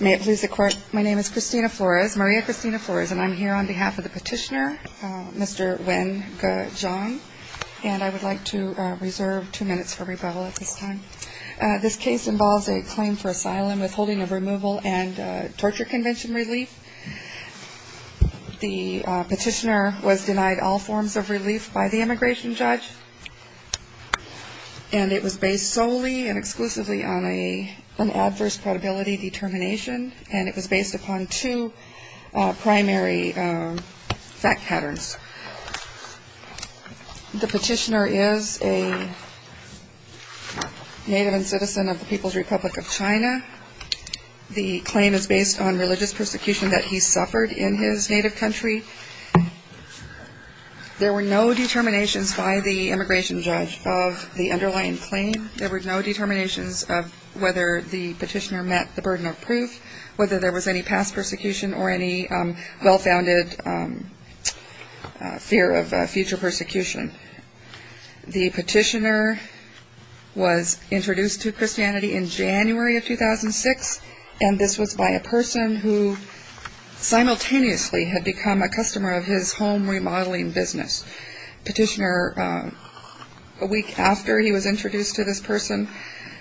May it please the Court, my name is Christina Flores, Maria Christina Flores, and I'm here on behalf of the petitioner, Mr. Wenge Zhang, and I would like to reserve two minutes for rebuttal at this time. This case involves a claim for asylum, withholding of removal, and torture convention relief. The petitioner was denied all forms of relief by the immigration judge, and it was based exclusively on an adverse probability determination, and it was based upon two primary fact patterns. The petitioner is a native and citizen of the People's Republic of China. The claim is based on religious persecution that he suffered in his native country. There were no determinations by the immigration judge of the underlying claim. There were no determinations of whether the petitioner met the burden of proof, whether there was any past persecution or any well-founded fear of future persecution. The petitioner was introduced to Christianity in January of 2006, and this was by a person who simultaneously had become a customer of his home remodeling business. The petitioner, a week after he was introduced to this person,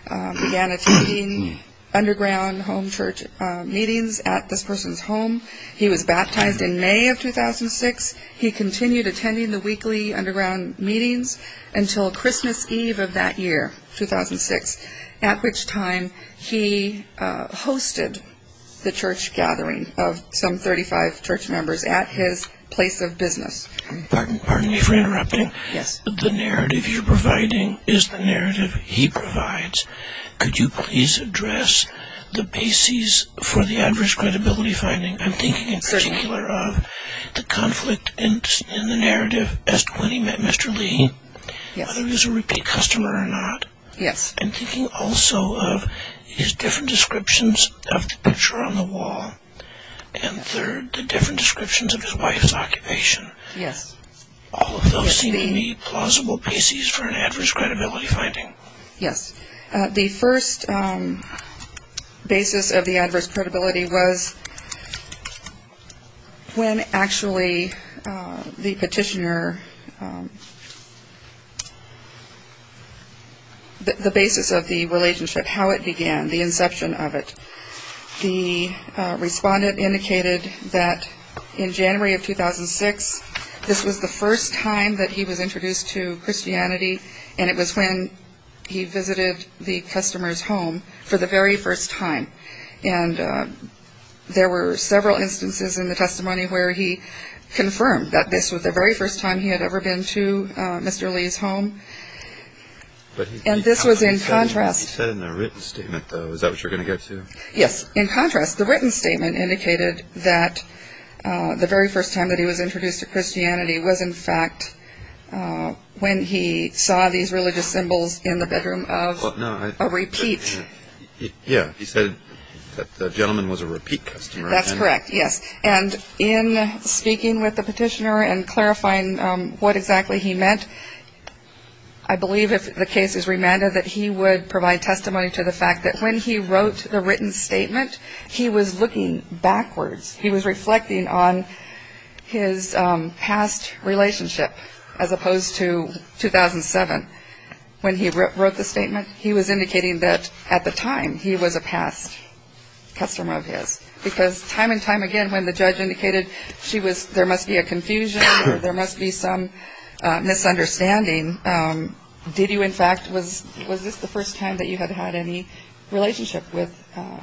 began attending underground home church meetings at this person's home. He was baptized in May of 2006. He continued attending the weekly underground meetings until Christmas Eve of that year, 2006, at which time he hosted the church gathering of some 35 church members at his place of business. Pardon me for interrupting. Yes. The narrative you're providing is the narrative he provides. Could you please address the basis for the adverse credibility finding? I'm thinking in particular of the conflict in the narrative as to when he met Mr. Li, whether he was a repeat customer or not. Yes. I'm thinking also of his different descriptions of the picture on the wall, and third, the different descriptions of his wife's occupation. Yes. All of those seem to me plausible bases for an adverse credibility finding. Yes. The first basis of the adverse credibility was when actually the petitioner, the basis of the relationship, how it began, the inception of it. The respondent indicated that in January of 2006, this was the first time that he was introduced to Christianity, and it was when he visited the customer's home for the very first time. And there were several instances in the testimony where he confirmed that this was the very first time he had ever been to Mr. Li's home. He said in a written statement, though. Is that what you're going to get to? Yes. In contrast, the written statement indicated that the very first time that he was introduced to Christianity was in fact when he saw these religious symbols in the bedroom of a repeat. Yes. He said that the gentleman was a repeat customer. That's correct, yes. And in speaking with the petitioner and clarifying what exactly he meant, I believe if the case is remanded that he would provide testimony to the fact that when he wrote the written statement, he was looking backwards. He was reflecting on his past relationship as opposed to 2007. When he wrote the statement, he was indicating that at the time he was a past customer of his, because time and time again when the misunderstanding, did you in fact, was this the first time that you had had any relationship with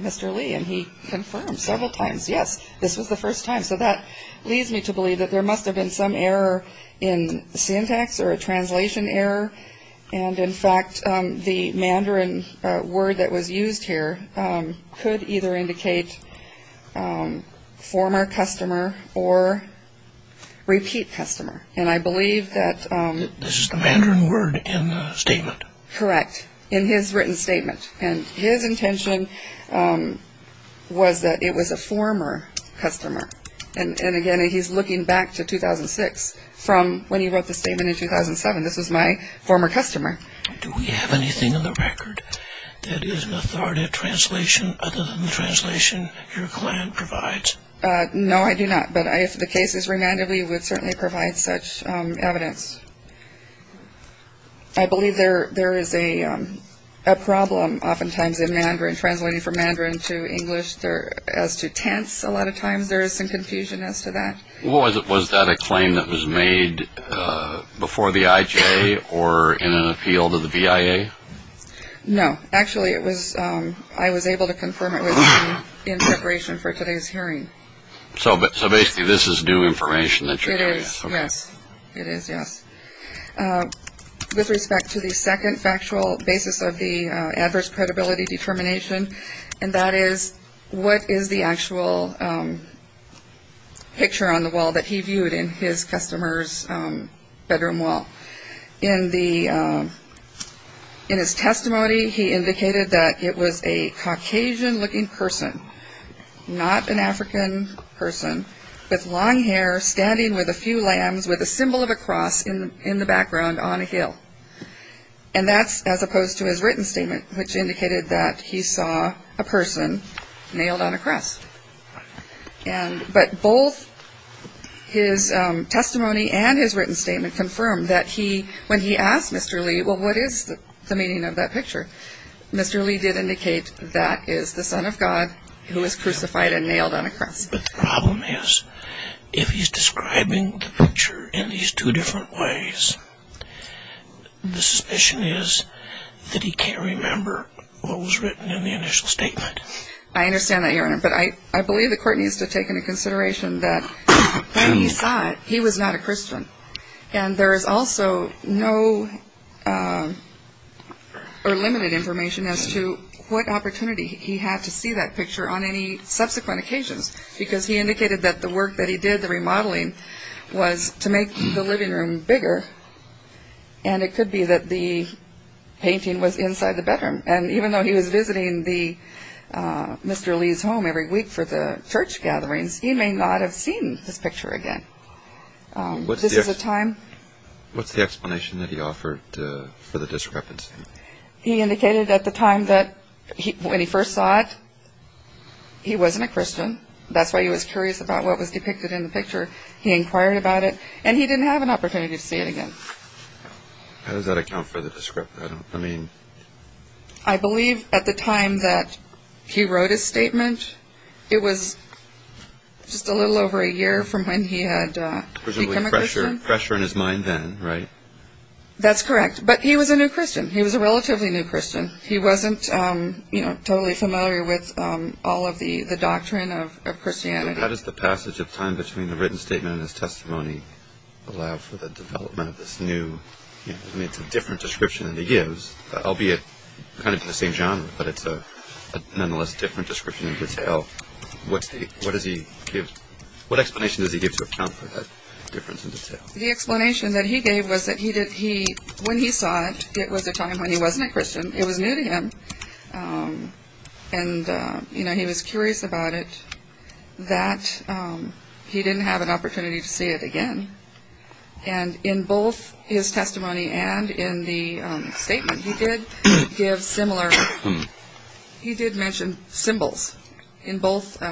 Mr. Li? And he confirmed several times, yes, this was the first time. So that leads me to believe that there must have been some error in syntax or a translation error. And in fact, the Mandarin word that was used here could either indicate former customer or repeat customer. And I believe that... This is the Mandarin word in the statement? Correct. In his written statement. And his intention was that it was a former customer. And again, he's looking back to 2006 from when he wrote the statement in 2007. This was my former customer. Do we have anything in the record that is an authoritative translation other than the translation your client provides? No, I do not. But if the case is remanded, we would certainly provide such evidence. I believe there is a problem oftentimes in Mandarin, translating from Mandarin to English as to tense a lot of times. There is some confusion as to that. Was that a claim that was made before the IJA or in an appeal to the VIA? No. Actually, I was able to confirm it was in preparation for today's hearing. So basically, this is new information that you're... It is, yes. It is, yes. With respect to the second factual basis of the adverse credibility determination, and that is, what is the actual picture on the wall that he viewed in his customer's bedroom wall? In the... In his testimony, he indicated that it was a Caucasian looking person, not an African person, with long hair, standing with a few lambs, with a symbol of a cross in the background on a hill. And that's as opposed to his written statement, which indicated that he saw a person nailed on a cross. And... But both his testimony and his written statement confirmed that he... When he asked Mr. Lee, well, what is the meaning of that picture? Mr. Lee did indicate that is the Son of God who was crucified and nailed on a cross. But the problem is, if he's describing the picture in these two different ways, the suspicion is that he can't remember what was written in the initial statement. I understand that, Your Honor, but I believe the court needs to take into consideration that when he saw that, he was not a Christian. And there is also no... Or limited information as to what opportunity he had to see that picture on any subsequent occasions, because he indicated that the work that he did, the remodeling, was to make the living room bigger, and it could be that the painting was inside the bedroom. And even though he was visiting the... Mr. Lee's home every week for the church gatherings, he may not have seen this picture again. This is a time... What's the explanation that he offered for the discrepancy? He indicated at the time that when he first saw it, he wasn't a Christian. That's why he was curious about what was depicted in the picture. He inquired about it, and he didn't have an opportunity to see it again. How does that account for the discrepancy? I mean... I believe at the time he had become a Christian. Presumably pressure in his mind then, right? That's correct. But he was a new Christian. He was a relatively new Christian. He wasn't, you know, totally familiar with all of the doctrine of Christianity. How does the passage of time between the written statement and his testimony allow for the development of this new... I mean it's a different description than he gives, albeit kind of in the same genre, but it's a nonetheless different description in detail. What does he give... What explanation does he give to account for that difference in detail? The explanation that he gave was that when he saw it, it was a time when he wasn't a Christian. It was new to him. And, you know, he was curious about it, that he didn't have an opportunity to see it again. And in both his testimony and in the statement, he did give similar... He did mention symbols. In both,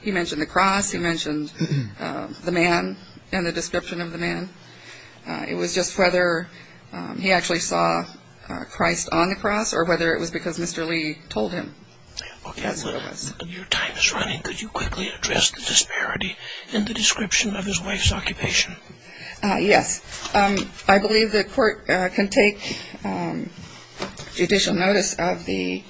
he mentioned the cross, he mentioned the man and the description of the man. It was just whether he actually saw Christ on the cross or whether it was because Mr. Lee told him. Yes, it was. Okay, well, your time is running. Could you quickly address the disparity in the description of the cross? Well, the court can take judicial notice of the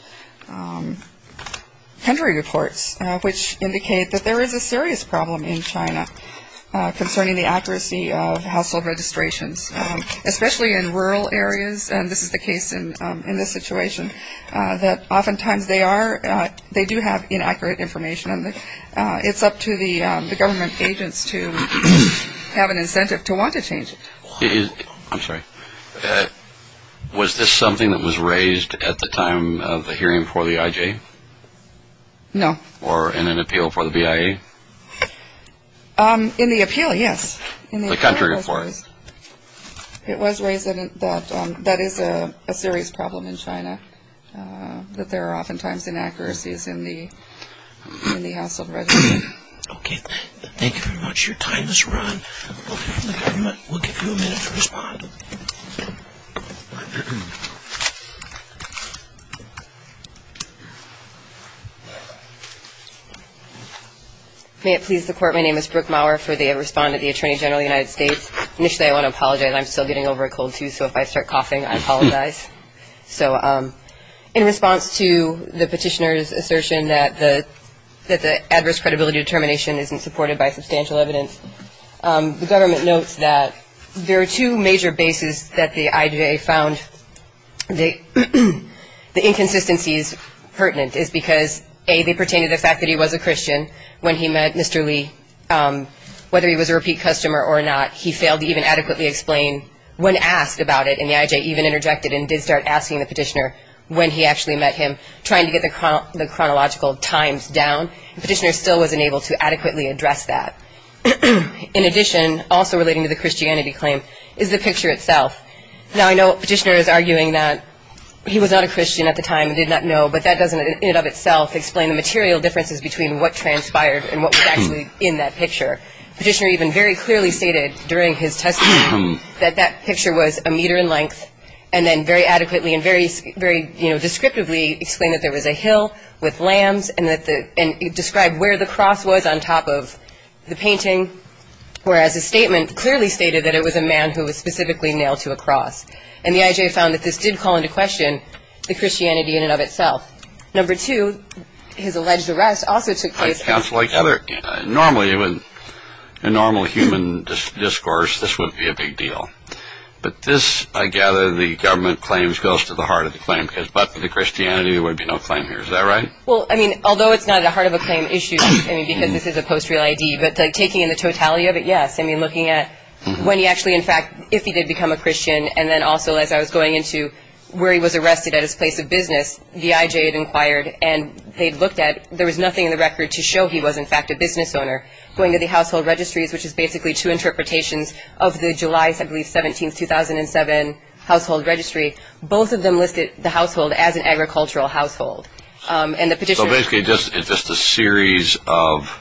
country reports, which indicate that there is a serious problem in China concerning the accuracy of household registrations, especially in rural areas, and this is the case in this situation, that oftentimes they are... They do have inaccurate information, and it's up to the government agents to have an incentive to want to change it. I'm sorry. Was this something that was raised at the time of the hearing for the IJ? No. Or in an appeal for the BIA? In the appeal, yes. The country reports. It was raised that that is a serious problem in China, that there are oftentimes inaccuracies in the household register. Okay, thank you very much. Your time has run. We'll give you a minute to respond. May it please the court, my name is Brooke Mauer, for the respondent of the Attorney General of the United States. Initially, I want to apologize. I'm still getting over a cold, too, so if I start coughing, I apologize. So in response to the petitioner's assertion that the adverse credibility determination isn't supported by substantial evidence, the government notes that there are two major bases that the IJ found the inconsistencies pertinent is because, A, they pertain to the fact that he was a Christian when he met Mr. Lee. Whether he was a repeat customer or not, he failed to even adequately explain when asked about it, and the IJ even interjected and did start asking the petitioner when he actually met him, trying to get the chronological times down. The petitioner still wasn't able to adequately address that. In addition, also relating to the Christianity claim, is the picture itself. Now, I know the petitioner is arguing that he was not a Christian at the time and did not know, but that doesn't in and of itself explain the material differences between what transpired and what was actually in that picture. The petitioner even very clearly stated during his testimony that that picture was a meter in length and then very adequately and very descriptively explained that there was a hill with lambs and described where the cross was on top of the painting, whereas his statement clearly stated that it was a man who was specifically nailed to a cross. And the IJ found that this did call into question the Christianity in and of itself. Number two, his alleged arrest also took place at- Counsel, I gather, normally, in normal human discourse, this would be a big deal. But this, I gather, the government claims goes to the heart of the claim. Because but for the Christianity, there would be no claim here. Is that right? Well, I mean, although it's not at the heart of a claim issue, I mean, because this is a post-real ID, but taking in the totality of it, yes. I mean, looking at when he actually, in fact, if he did become a Christian, and then also, as I was going into where he was arrested at his place of business, the IJ had inquired and they'd looked at, there was nothing in the record to show he was, in fact, a business owner. Going to the household registries, which is basically two interpretations of the July, I believe, 17, 2007 household registry, both of them listed the household as an agricultural household. And the petitioner- So basically, it's just a series of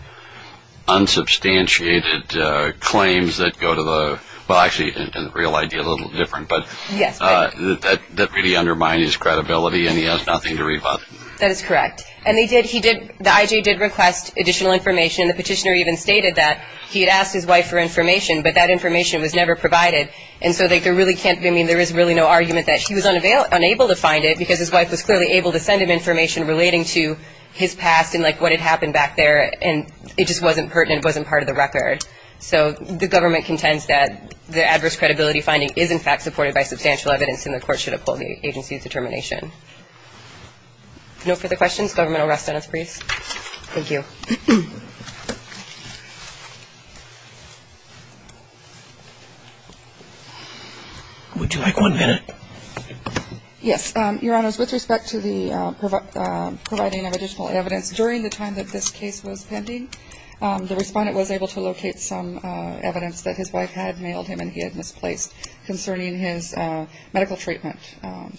unsubstantiated claims that go to the, well, actually, in the real ID, a little different, but that really undermined his credibility and he has nothing to rebut. That is correct. And he did, the IJ did request additional information. The petitioner even asked his wife for information, but that information was never provided. And so, there really can't be, I mean, there is really no argument that he was unable to find it, because his wife was clearly able to send him information relating to his past and, like, what had happened back there. And it just wasn't pertinent, it wasn't part of the record. So the government contends that the adverse credibility finding is, in fact, supported by substantial evidence and the court should uphold the agency's determination. No further questions? Government will rest on its priest. Thank you. Would you like one minute? Yes. Your Honors, with respect to the providing of additional evidence, during the time that this case was pending, the Respondent was able to locate some evidence that his wife had mailed him and he had misplaced concerning his medical treatment.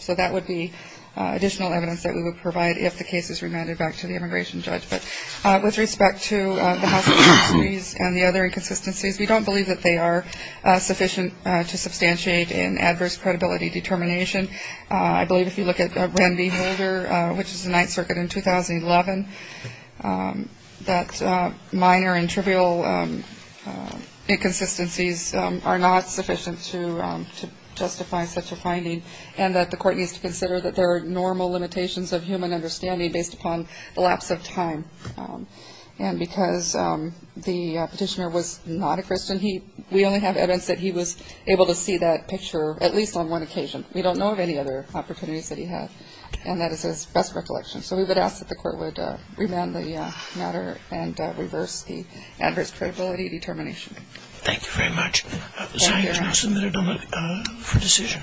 So that would be additional evidence that we would provide if the case is remanded back to the immigration judge. But with respect to the hostilities and the other inconsistencies, we don't believe that they are sufficient to substantiate an adverse credibility determination. I believe if you look at Randy Holder, which is the Ninth Circuit in 2011, that minor and trivial inconsistencies are not sufficient to justify such a finding and that the court needs to consider that there are normal limitations of human understanding based upon the lapse of time. And because the petitioner was not a Christian, we only have evidence that he was able to see that picture at least on one occasion. We don't know of any other opportunities that he had. And that is his best recollection. So we would ask that the court would remand the matter and reverse the adverse credibility determination. Thank you very much. Thank you, Your Honors.